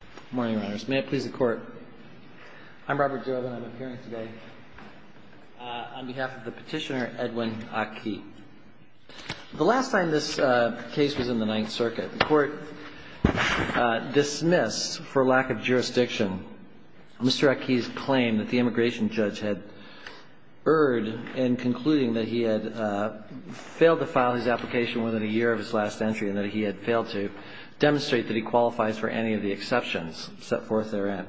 Good morning, Your Honors. May it please the Court. I'm Robert Jobe and I'm appearing today on behalf of the petitioner, Edwin Aki. The last time this case was in the Ninth Circuit, the Court dismissed, for lack of jurisdiction, Mr. Aki's claim that the immigration judge had erred in concluding that he had failed to file his application within a year of his last entry and that he had failed to demonstrate that he qualifies for any of the exceptions set forth therein.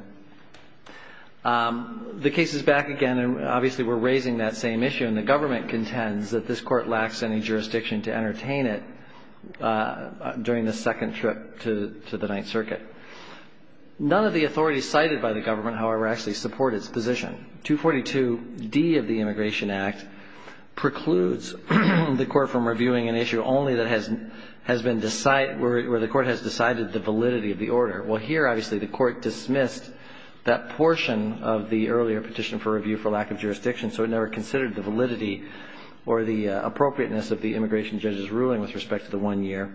The case is back again, and obviously we're raising that same issue, and the government contends that this Court lacks any jurisdiction to entertain it during the second trip to the Ninth Circuit. None of the authorities cited by the government, however, actually support its position. 242D of the Immigration Act precludes the Court from reviewing an issue only that has been where the Court has decided the validity of the order. Well, here, obviously, the Court dismissed that portion of the earlier petition for review for lack of jurisdiction, so it never considered the validity or the appropriateness of the immigration judge's ruling with respect to the one year.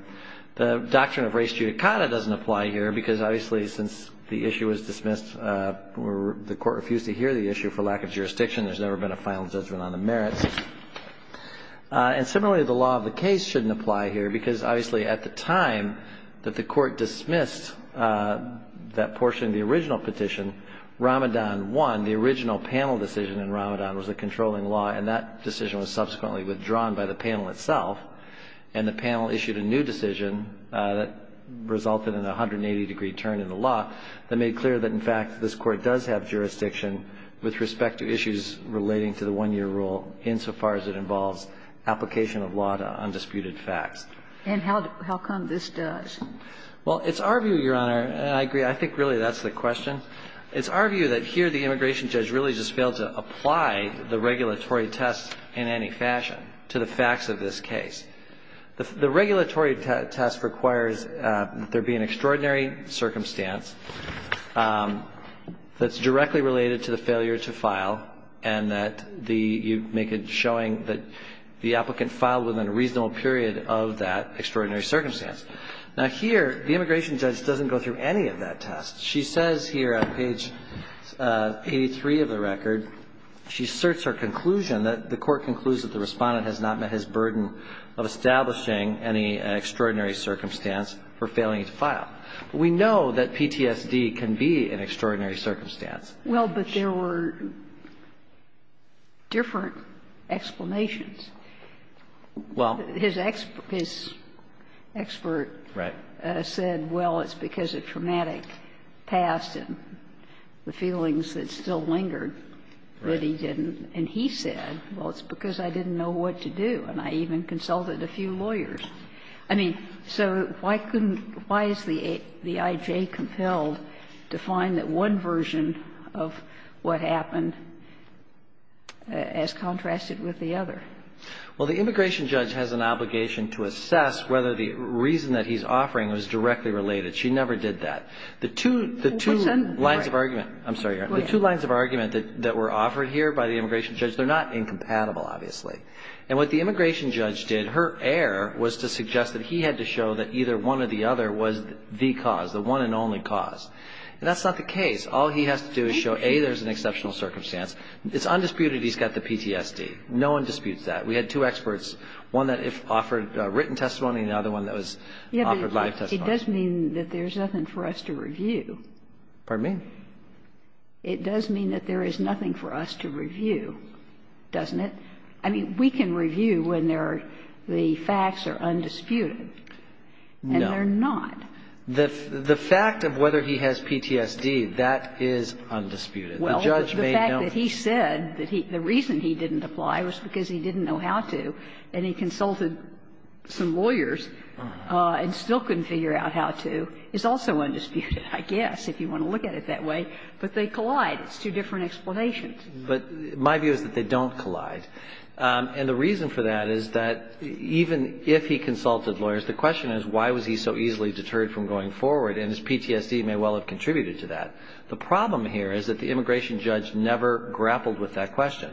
The doctrine of res judicata doesn't apply here because, obviously, since the issue was dismissed, the Court refused to hear the issue for lack of jurisdiction. There's never been a final judgment on the merits. And similarly, the law of the case shouldn't apply here because, obviously, at the time that the Court dismissed that portion of the original petition, Ramadan 1, the original panel decision in Ramadan, was a controlling law, and that decision was subsequently withdrawn by the panel itself. And the panel issued a new decision that resulted in a 180-degree turn in the law that made clear that, in fact, this Court does have jurisdiction with respect to issues relating to the one-year rule insofar as it involves application of law to undisputed facts. And how come this does? Well, it's our view, Your Honor, and I agree, I think really that's the question. It's our view that here the immigration judge really just failed to apply the regulatory test in any fashion to the facts of this case. The regulatory test requires there be an extraordinary circumstance that's directly related to the failure to file and that you make it showing that the applicant filed within a reasonable period of that extraordinary circumstance. Now, here, the immigration judge doesn't go through any of that test. She says here, on page 83 of the record, she asserts her conclusion that the Court concludes that the Respondent has not met his burden of establishing any extraordinary circumstance for failing to file. But we know that PTSD can be an extraordinary circumstance. Well, but there were different explanations. Well, his expert said, well, it's because of traumatic events. Well, he said, well, it's because I didn't know what to do. And I even consulted a few lawyers. I mean, so why couldn't why is the IJ compelled to find that one version of what happened as contrasted with the other? Well, the immigration judge has an obligation to assess whether the reason that he's offering was directly related. She never did that. The two lines of argument that were offered here by the immigration judge, they're not incompatible, obviously. And what the immigration judge did, her error was to suggest that he had to show that either one or the other was the cause, the one and only cause. And that's not the case. All he has to do is show, A, there's an exceptional circumstance. It's undisputed he's got the PTSD. No one disputes that. We had two experts, one that offered written testimony and the other one that was offered live testimony. It does mean that there's nothing for us to review. Pardon me? It does mean that there is nothing for us to review, doesn't it? I mean, we can review when there are the facts are undisputed. No. And they're not. The fact of whether he has PTSD, that is undisputed. Well, the fact that he said that he the reason he didn't apply was because he didn't know how to and he consulted some lawyers and still couldn't figure out how to is also undisputed, I guess, if you want to look at it that way. But they collide. It's two different explanations. But my view is that they don't collide. And the reason for that is that even if he consulted lawyers, the question is, why was he so easily deterred from going forward? And his PTSD may well have contributed to that. The problem here is that the immigration judge never grappled with that question.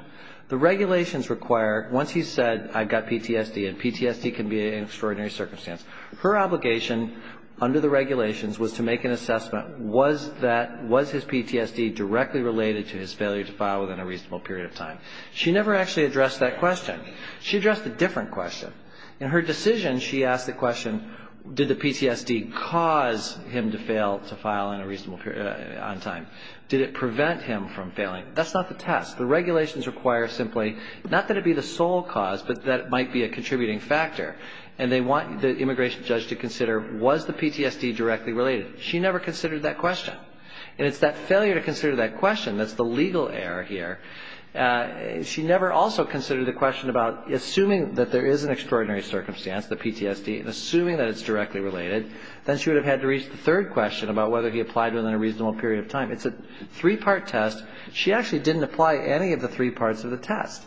The regulations require, once he said, I've got PTSD, and PTSD can be an extraordinary circumstance, her obligation under the regulations was to make an assessment, was that, was his PTSD directly related to his failure to file within a reasonable period of time? She never actually addressed that question. She addressed a different question. In her decision, she asked the question, did the PTSD cause him to fail to file in a reasonable period on time? Did it prevent him from failing? That's not the test. The regulations require simply not that it be the sole cause, but that it might be a contributing factor. And they want the immigration judge to consider, was the PTSD directly related? She never considered that question. And it's that failure to consider that question that's the legal error here. She never also considered the question about assuming that there is an extraordinary circumstance, the PTSD, and assuming that it's directly related. Then she would have had to reach the third question about whether he applied within a reasonable period of time. It's a three-part test. She actually didn't apply any of the three parts of the test.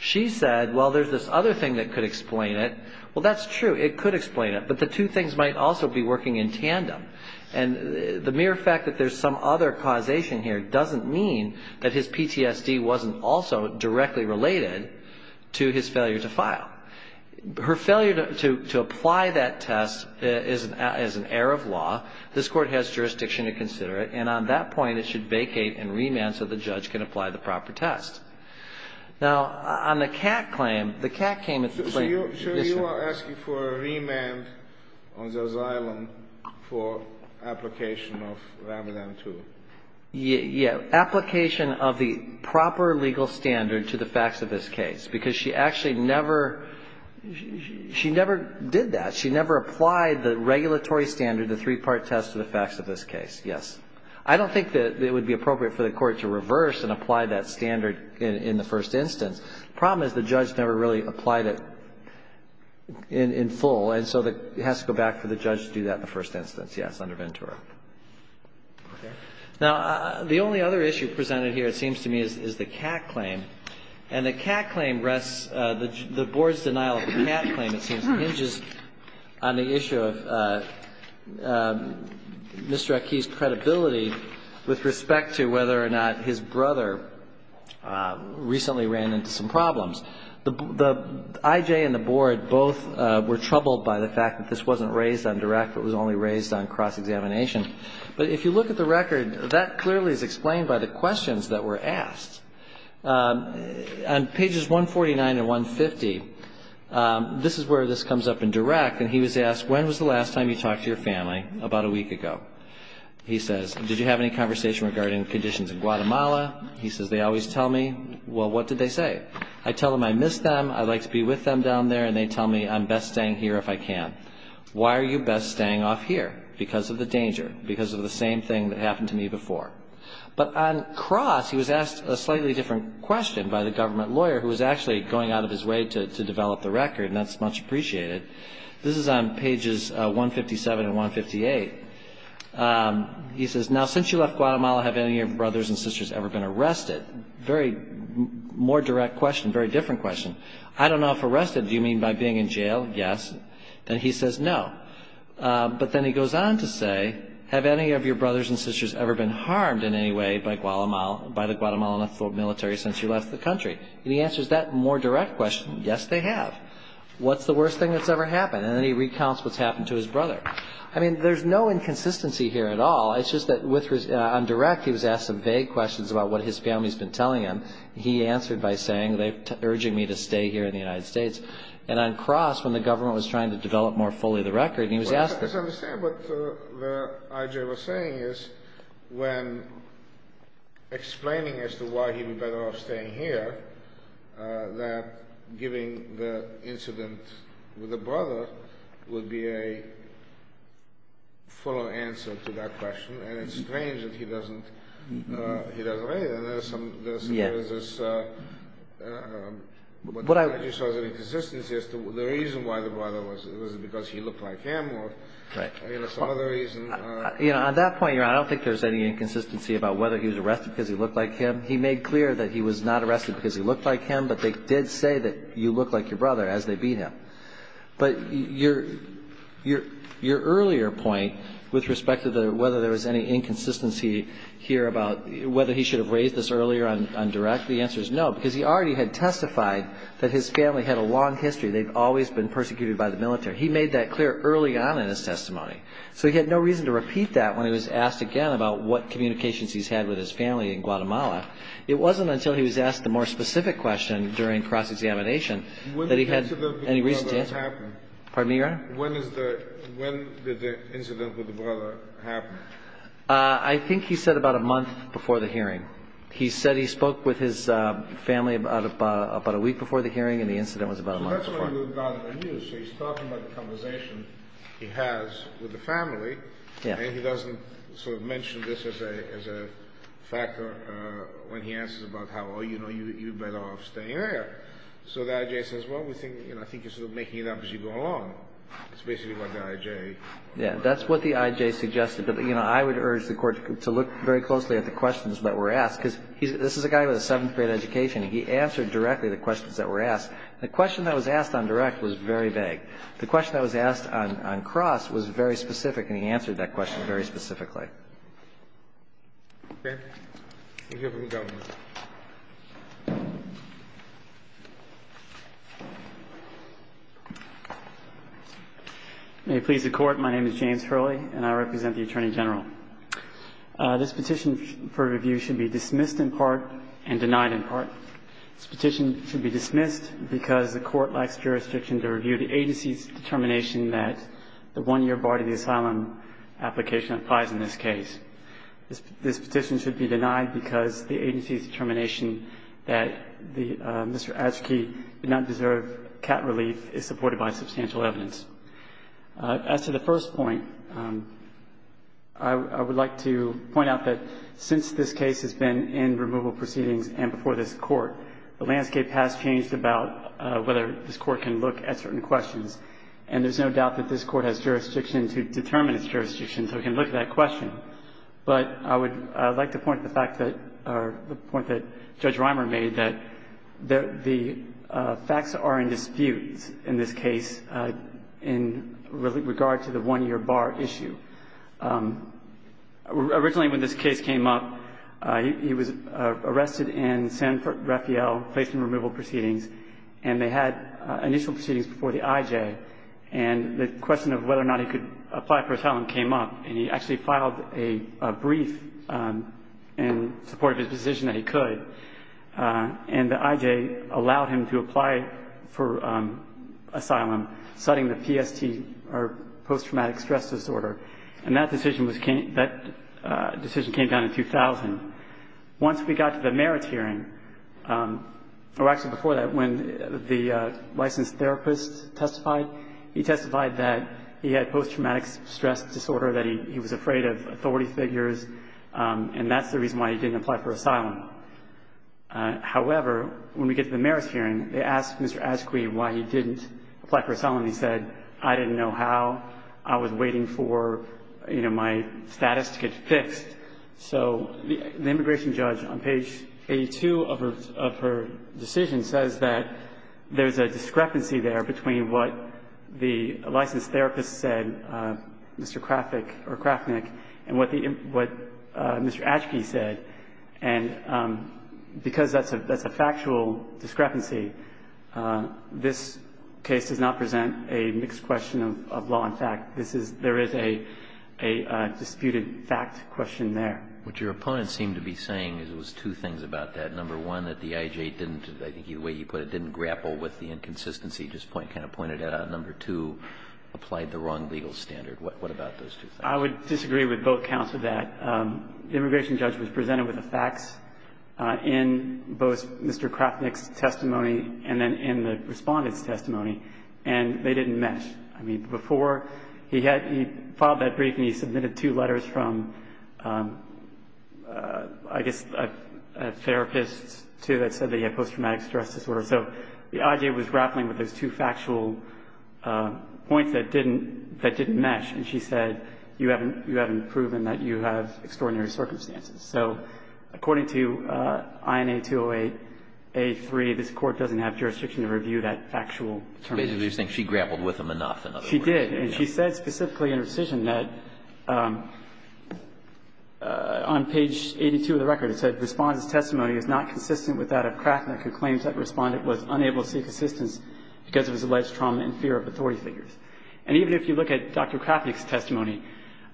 She said, well, there's this other thing that could explain it. Well, that's true. It could explain it. But the two things might also be working in tandem. And the mere fact that there's some other causation here doesn't mean that his PTSD wasn't also directly related to his failure to file. Her failure to apply that test is an error of law. This Court has jurisdiction to consider it. And on that point, it should vacate and remand so the judge can apply the proper test. Now, on the CAC claim, the CAC came and said this. So you are asking for a remand on Zerzillan for application of Rambodan II? Yeah. Application of the proper legal standard to the facts of this case. Because she actually never did that. She never applied the regulatory standard, the three-part test, to the facts of this case. Yes. I don't think that it would be appropriate for the Court to reverse and apply that standard in the first instance. The problem is the judge never really applied it in full. And so it has to go back for the judge to do that in the first instance. Yes, under Ventura. Okay. Now, the only other issue presented here, it seems to me, is the CAC claim. And the CAC claim rests, the Board's denial of the CAC claim, it seems, hinges on the issue of Mr. Akee's credibility with respect to whether or not his brother recently ran into some problems. The IJ and the Board both were troubled by the fact that this wasn't raised on direct, it was only raised on cross-examination. But if you look at the record, that clearly is explained by the questions that were asked. On pages 149 and 150, this is where this comes up in direct. And he was asked, when was the last time you talked to your family? About a week ago. He says, did you have any conversation regarding conditions in Guatemala? He says, they always tell me. Well, what did they say? I tell them I miss them, I'd like to be with them down there, and they tell me I'm best staying here if I can. Why are you best staying off here? Because of the danger, because of the same thing that happened to me before. But on cross, he was asked a slightly different question by the government lawyer, who was actually going out of his way to develop the record, and that's much appreciated. This is on pages 157 and 158. He says, now, since you left Guatemala, have any of your brothers and sisters ever been arrested? Very more direct question, very different question. I don't know if arrested, do you mean by being in jail? Yes. Then he says no. But then he goes on to say, have any of your brothers and sisters ever been harmed in any way by the Guatemalan military since you left the country? And he answers that more direct question, yes, they have. What's the worst thing that's ever happened? And then he recounts what's happened to his brother. I mean, there's no inconsistency here at all. It's just that on direct, he was asked some vague questions about what his family's been telling him. He answered by saying, they're urging me to stay here in the United States. And on cross, when the government was trying to develop more fully the record, he was asked this. I just don't understand what I.J. was saying is when explaining as to why he would be better off staying here, that giving the incident with the brother would be a fuller answer to that question. And it's strange that he doesn't raise it. There's some inconsistency as to the reason why the brother was. Was it because he looked like him or some other reason? On that point, Your Honor, I don't think there's any inconsistency about whether he was arrested because he looked like him. He made clear that he was not arrested because he looked like him, but they did say that you look like your brother as they beat him. But your earlier point with respect to whether there was any inconsistency here about whether he should have raised this earlier on direct, the answer is no, because he already had testified that his family had a long history. They've always been persecuted by the military. He made that clear early on in his testimony. So he had no reason to repeat that when he was asked again about what communications he's had with his family in Guatemala. It wasn't until he was asked the more specific question during cross-examination that he had any reason to. When did the incident with the brother happen? I think he said about a month before the hearing. He said he spoke with his family about a week before the hearing, and the incident was about a month before. So that's why we've got it on you. So he's talking about the conversation he has with the family. And he doesn't sort of mention this as a factor when he answers about how, oh, you know, you're better off staying there. So the I.J. says, well, we think, you know, I think you're sort of making it up as you go along. It's basically what the I.J. Yeah, that's what the I.J. suggested. But, you know, I would urge the Court to look very closely at the questions that were asked, because this is a guy with a seventh-grade education, and he answered directly the questions that were asked. The question that was asked on direct was very vague. The question that was asked on cross was very specific, and he answered that question very specifically. Okay. We'll hear from the government. May it please the Court. My name is James Hurley, and I represent the Attorney General. This petition for review should be dismissed in part and denied in part. This petition should be dismissed because the Court lacks jurisdiction to review the agency's determination that the one-year bar to the asylum application applies in this case. This petition should be denied because the agency's determination that Mr. Aschke did not deserve cat relief is supported by substantial evidence. As to the first point, I would like to point out that since this case has been in removal proceedings and before this Court, the landscape has changed about whether this Court can look at certain questions. And there's no doubt that this Court has jurisdiction to determine its jurisdiction, so it can look at that question. But I would like to point to the fact that or the point that Judge Reimer made that the facts are in dispute in this case in regard to the one-year bar issue. Originally, when this case came up, he was arrested in San Rafael, placed in removal proceedings, and they had initial proceedings before the IJ. And the question of whether or not he could apply for asylum came up, and he actually filed a brief in support of his decision that he could. And the IJ allowed him to apply for asylum, citing the PST or post-traumatic stress disorder. And that decision came down in 2000. Once we got to the merits hearing, or actually before that, when the licensed therapist testified, he testified that he had post-traumatic stress disorder, that he was afraid of authority figures, and that's the reason why he didn't apply for asylum. However, when we get to the merits hearing, they asked Mr. Aschke why he didn't apply for asylum. He said, I didn't know how. I was waiting for, you know, my status to get fixed. So the immigration judge, on page 82 of her decision, says that there's a discrepancy there between what the licensed therapist said, Mr. Krafick or Krafnick, and what the Mr. Aschke said. And because that's a factual discrepancy, this case does not present a mixed question of law and fact. This is – there is a disputed fact question there. What your opponents seem to be saying is it was two things about that. Number one, that the IJ didn't, I think either way you put it, didn't grapple with the inconsistency you just kind of pointed out. And number two, applied the wrong legal standard. What about those two things? I would disagree with both counts of that. The immigration judge was presented with the facts in both Mr. Krafnick's testimony and then in the respondent's testimony, and they didn't mesh. I mean, before he had – he filed that brief and he submitted two letters from, I guess, a therapist, too, that said that he had post-traumatic stress disorder. So the IJ was grappling with those two factual points that didn't mesh. And she said, you haven't proven that you have extraordinary circumstances. So according to INA 208a3, this Court doesn't have jurisdiction to review that factual determination. But you think she grappled with them enough, in other words. She did. And she said specifically in her decision that on page 82 of the record, it said, Respondent's testimony is not consistent with that of Krafnick, who claims that the Respondent was unable to seek assistance because of his alleged trauma and fear of authority figures. And even if you look at Dr. Krafnick's testimony,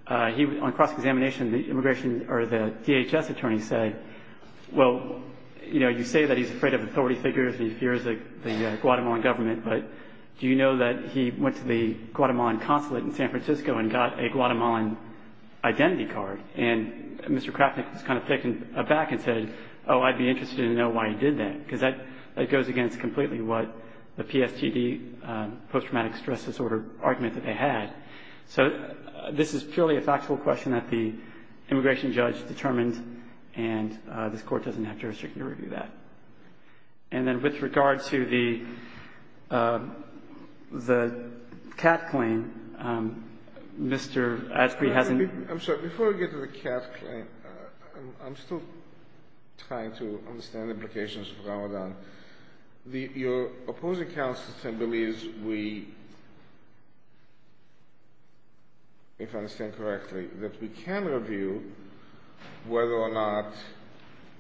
on cross-examination, the immigration or the DHS attorney said, well, you know, you say that he's afraid of authority figures and he fears the Guatemalan government, but do you know that he went to the Guatemalan consulate in San Francisco and got a Guatemalan identity card? And Mr. Krafnick was kind of taken aback and said, oh, I'd be interested to know why he did that, because that goes against completely what the PSTD, post-traumatic stress disorder argument that they had. So this is purely a factual question that the immigration judge determined, and this Court doesn't have jurisdiction to review that. And then with regard to the CAT claim, Mr. Asprey hasn't been ---- I'm sorry. Before we get to the CAT claim, I'm still trying to understand the implications of Ramadan. Your opposing counsel, Tim, believes we, if I understand correctly, that we can review whether or not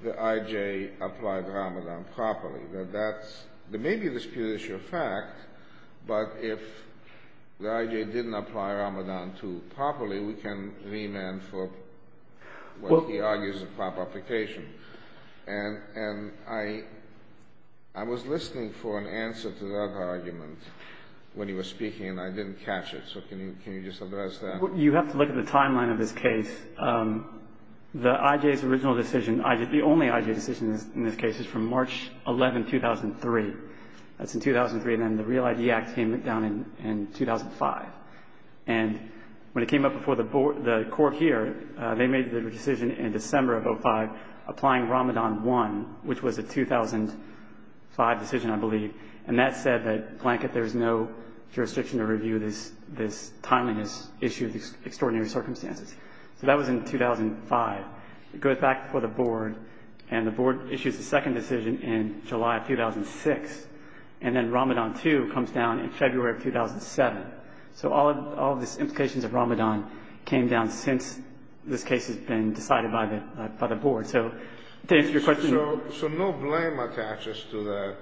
the IJ applied Ramadan properly. Now, that's ---- there may be a disputed issue of fact, but if the IJ didn't apply Ramadan to properly, we can remand for what he argues is a prop application. And I was listening for an answer to that argument when he was speaking, and I didn't catch it. So can you just address that? Well, you have to look at the timeline of this case. The IJ's original decision, the only IJ decision in this case, is from March 11, 2003. That's in 2003, and then the Real ID Act came down in 2005. And when it came up before the court here, they made the decision in December of 2005 applying Ramadan 1, which was a 2005 decision, I believe. And that said that, blanket, there's no jurisdiction to review this timeliness issue of extraordinary circumstances. So that was in 2005. It goes back before the board, and the board issues a second decision in July of 2006, and then Ramadan 2 comes down in February of 2007. So all of the implications of Ramadan came down since this case has been decided by the board. So to answer your question... So no blame attaches to the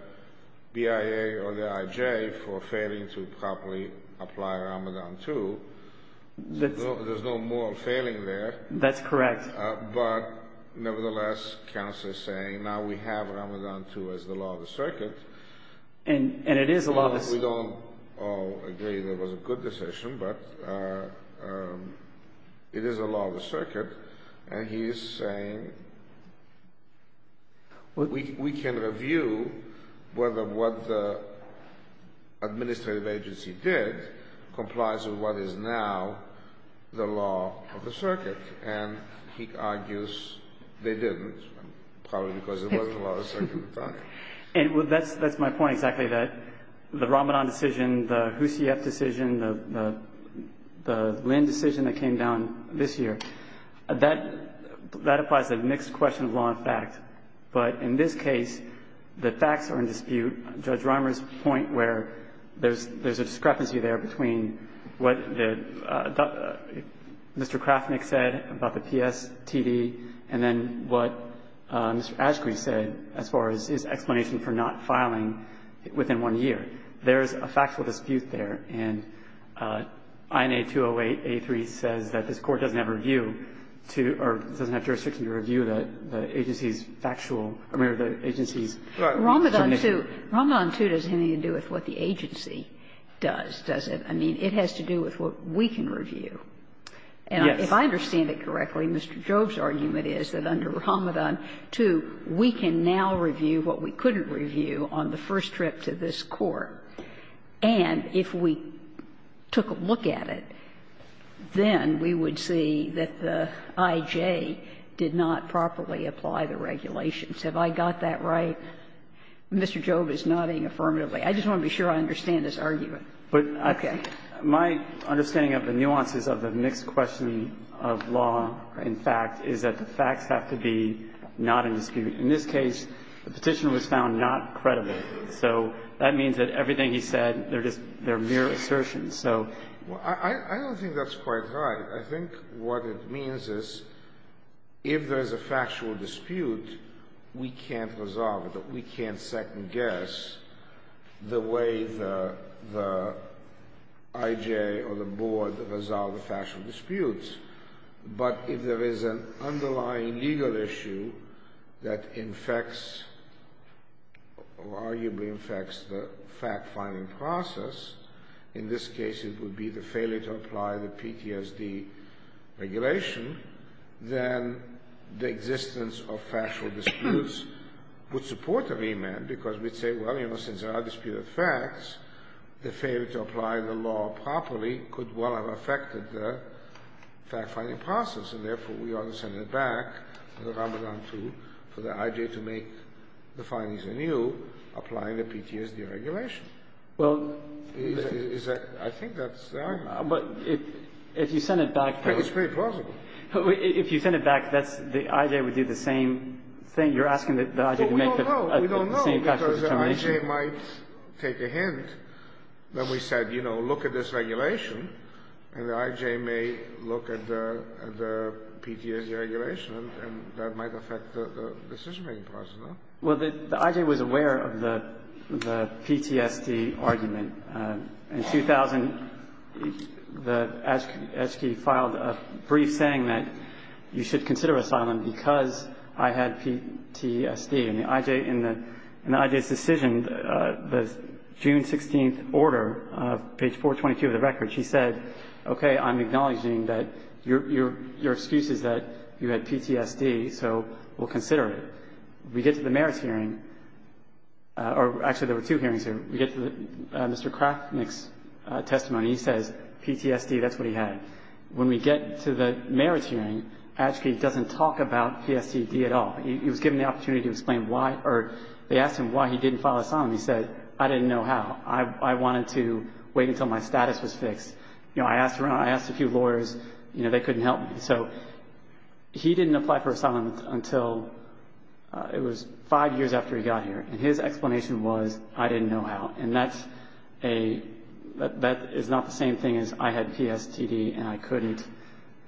BIA or the IJ for failing to properly apply Ramadan 2. There's no moral failing there. That's correct. But nevertheless, counsel is saying, now we have Ramadan 2 as the law of the circuit. And it is the law of the... We don't all agree that it was a good decision, but it is the law of the circuit. And he is saying we can review whether what the administrative agency did complies with what is now the law of the circuit. And he argues they didn't, probably because it wasn't the law of the circuit at the time. And that's my point exactly, that the Ramadan decision, the Houssieff decision, the Lynn decision that came down this year, that applies to the next question of law and fact. But in this case, the facts are in dispute. Judge Reimer's point where there's a discrepancy there between what Mr. Kraftnick said about the PSTD and then what Mr. Ashcroft said as far as his explanation for not filing within one year, there's a factual dispute there. And INA 208a3 says that this Court doesn't have review to or doesn't have jurisdiction to review the agency's factual or the agency's definition. Right. Ramadan 2 doesn't have anything to do with what the agency does, does it? I mean, it has to do with what we can review. Yes. If I understand it correctly, Mr. Jobe's argument is that under Ramadan 2, we can now review what we couldn't review on the first trip to this Court. And if we took a look at it, then we would see that the I.J. did not properly apply the regulations. Have I got that right? Mr. Jobe is nodding affirmatively. I just want to be sure I understand his argument. Okay. My understanding of the nuances of the mixed question of law in fact is that the facts have to be not in dispute. In this case, the Petitioner was found not credible. So that means that everything he said, they're mere assertions. I don't think that's quite right. I think what it means is if there's a factual dispute, we can't resolve it. We can't second-guess the way the I.J. or the Board resolve the factual disputes. But if there is an underlying legal issue that infects or arguably infects the fact-finding process, in this case it would be the failure to apply the PTSD regulation, then the we'd say, well, you know, since there are disputed facts, the failure to apply the law properly could well have affected the fact-finding process. And therefore, we ought to send it back in the Ramadan, too, for the I.J. to make the findings anew, applying the PTSD regulation. Is that the argument? I think that's the argument. But if you send it back, though. It's pretty plausible. If you send it back, that's the I.J. would do the same thing. You're asking the I.J. to make the same factual determination? We don't know. We don't know. Because the I.J. might take a hint that we said, you know, look at this regulation, and the I.J. may look at the PTSD regulation, and that might affect the decision-making process, no? Well, the I.J. was aware of the PTSD argument. In 2000, the ASCII filed a brief saying that you should consider asylum because I had PTSD. And the I.J. in the I.J.'s decision, the June 16th order, page 422 of the record, she said, okay, I'm acknowledging that your excuse is that you had PTSD, so we'll consider it. We get to the merits hearing, or actually there were two hearings here. We get to Mr. Kraftnick's testimony. He says PTSD, that's what he had. When we get to the merits hearing, Ashke doesn't talk about PTSD at all. He was given the opportunity to explain why or they asked him why he didn't file asylum. He said, I didn't know how. I wanted to wait until my status was fixed. You know, I asked around. I asked a few lawyers. You know, they couldn't help me. So he didn't apply for asylum until it was five years after he got here. And his explanation was, I didn't know how. And that's a, that is not the same thing as I had PSTD and I couldn't,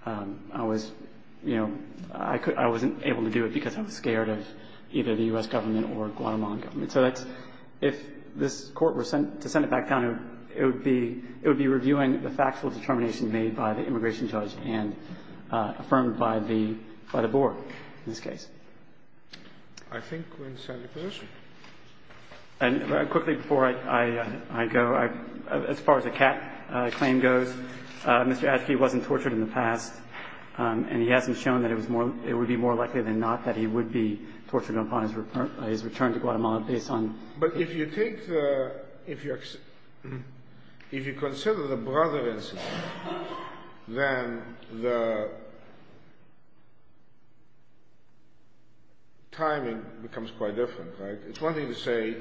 I was, you know, I wasn't able to do it because I was scared of either the U.S. government or Guatemalan government. So that's, if this court were sent to send it back down, it would be reviewing the factual determination made by the immigration judge and affirmed by the board in this case. I think we're in a sound position. And quickly before I go, as far as the cat claim goes, Mr. Ashke wasn't tortured in the past and he hasn't shown that it was more, it would be more likely than not that he would be tortured upon his return to Guatemala based on. But if you take the, if you consider the brother incident, then the, if you consider the timing becomes quite different, right? It's one thing to say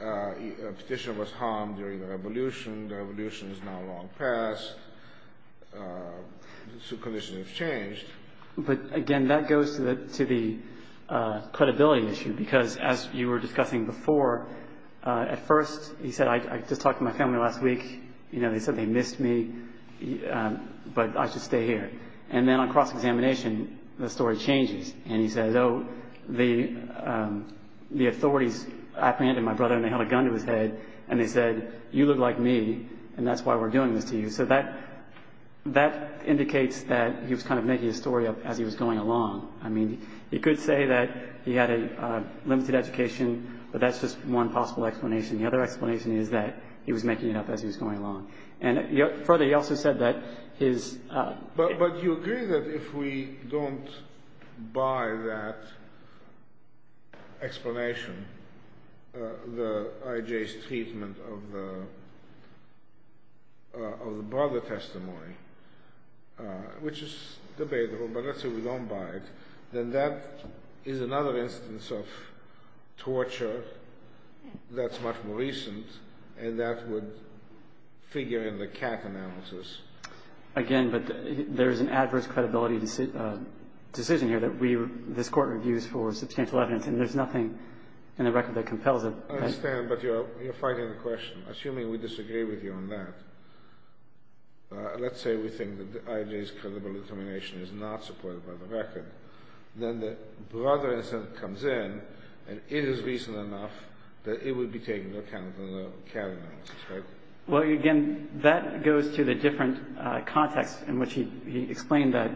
a petition was harmed during the revolution, the revolution is now long past, the conditions have changed. But again, that goes to the credibility issue because as you were discussing before, at first he said, I just talked to my family last week, you know, they said they missed me, but I should stay here. And then on cross-examination, the story changes. And he says, oh, the authorities apprehended my brother and they held a gun to his head and they said, you look like me and that's why we're doing this to you. So that indicates that he was kind of making his story up as he was going along. I mean, he could say that he had a limited education, but that's just one possible explanation. The other explanation is that he was making it up as he was going along. And further, he also said that his... But you agree that if we don't buy that explanation, the IJ's treatment of the brother testimony, which is debatable, but let's say we don't buy it, then that is another instance of torture that's much more recent and that would figure in the CAC analysis. Again, but there's an adverse credibility decision here that we, this Court reviews for substantial evidence and there's nothing in the record that compels it. I understand, but you're fighting the question. Assuming we disagree with you on that, let's say we think that the IJ's credible determination is not supported by the record, then the brother incident comes in and it is recent enough that it would be taken into account in the CAC analysis, right? Well, again, that goes to the different context in which he explained that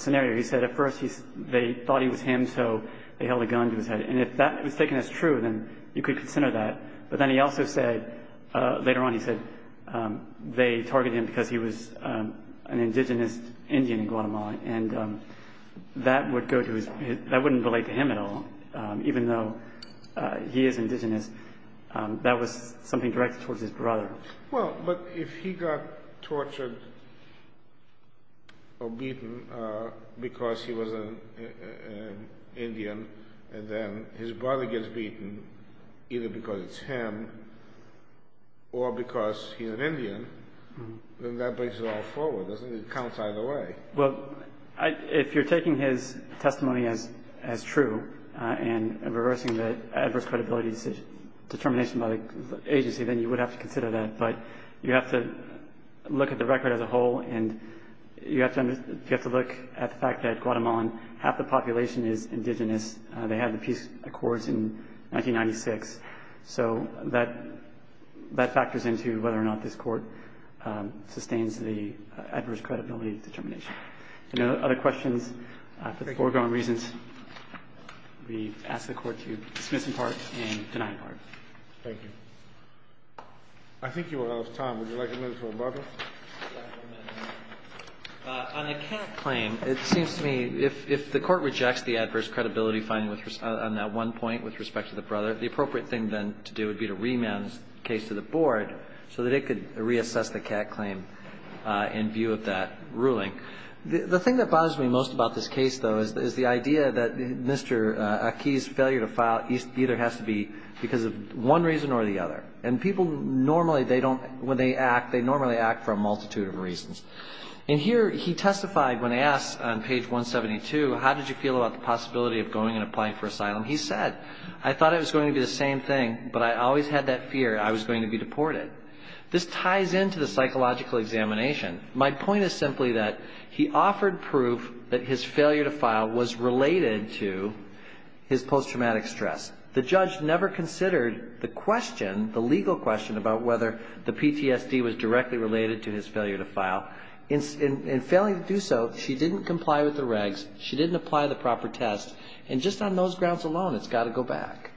scenario. He said at first they thought he was him, so they held a gun to his head. And if that was taken as true, then you could consider that. But then he also said, later on he said, they targeted him because he was an indigenous Indian in Guatemala and that would go to his, that wouldn't relate to him at all, even though he is indigenous. That was something directed towards his brother. Well, but if he got tortured or beaten because he was an Indian and then his brother gets beaten either because it's him or because he's an Indian, then that brings it all forward, doesn't it? It counts either way. Well, if you're taking his testimony as true and reversing the adverse credibility determination by the agency, then you would have to consider that. But you have to look at the record as a whole and you have to look at the fact that Guatemala population is indigenous. They had the peace accords in 1996. So that factors into whether or not this Court sustains the adverse credibility determination. Any other questions? Thank you. For the foregoing reasons, we ask the Court to dismiss in part and deny in part. Thank you. I think you are out of time. Would you like a minute or both? On the CAC claim, it seems to me if the Court rejects the adverse credibility finding on that one point with respect to the brother, the appropriate thing then to do would be to remand the case to the Board so that it could reassess the CAC claim in view of that ruling. The thing that bothers me most about this case, though, is the idea that Mr. Aki's failure to file either has to be because of one reason or the other. And people normally, when they act, they normally act for a multitude of reasons. And here he testified when asked on page 172, how did you feel about the possibility of going and applying for asylum? He said, I thought it was going to be the same thing, but I always had that fear I was going to be deported. This ties into the psychological examination. My point is simply that he offered proof that his failure to file was related to his post-traumatic stress. The judge never considered the question, the legal question about whether the PTSD was directly related to his failure to file. In failing to do so, she didn't comply with the regs. She didn't apply the proper test. And just on those grounds alone, it's got to go back.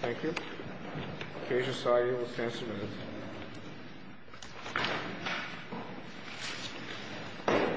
Thank you. The case is signed. We'll stand some minutes.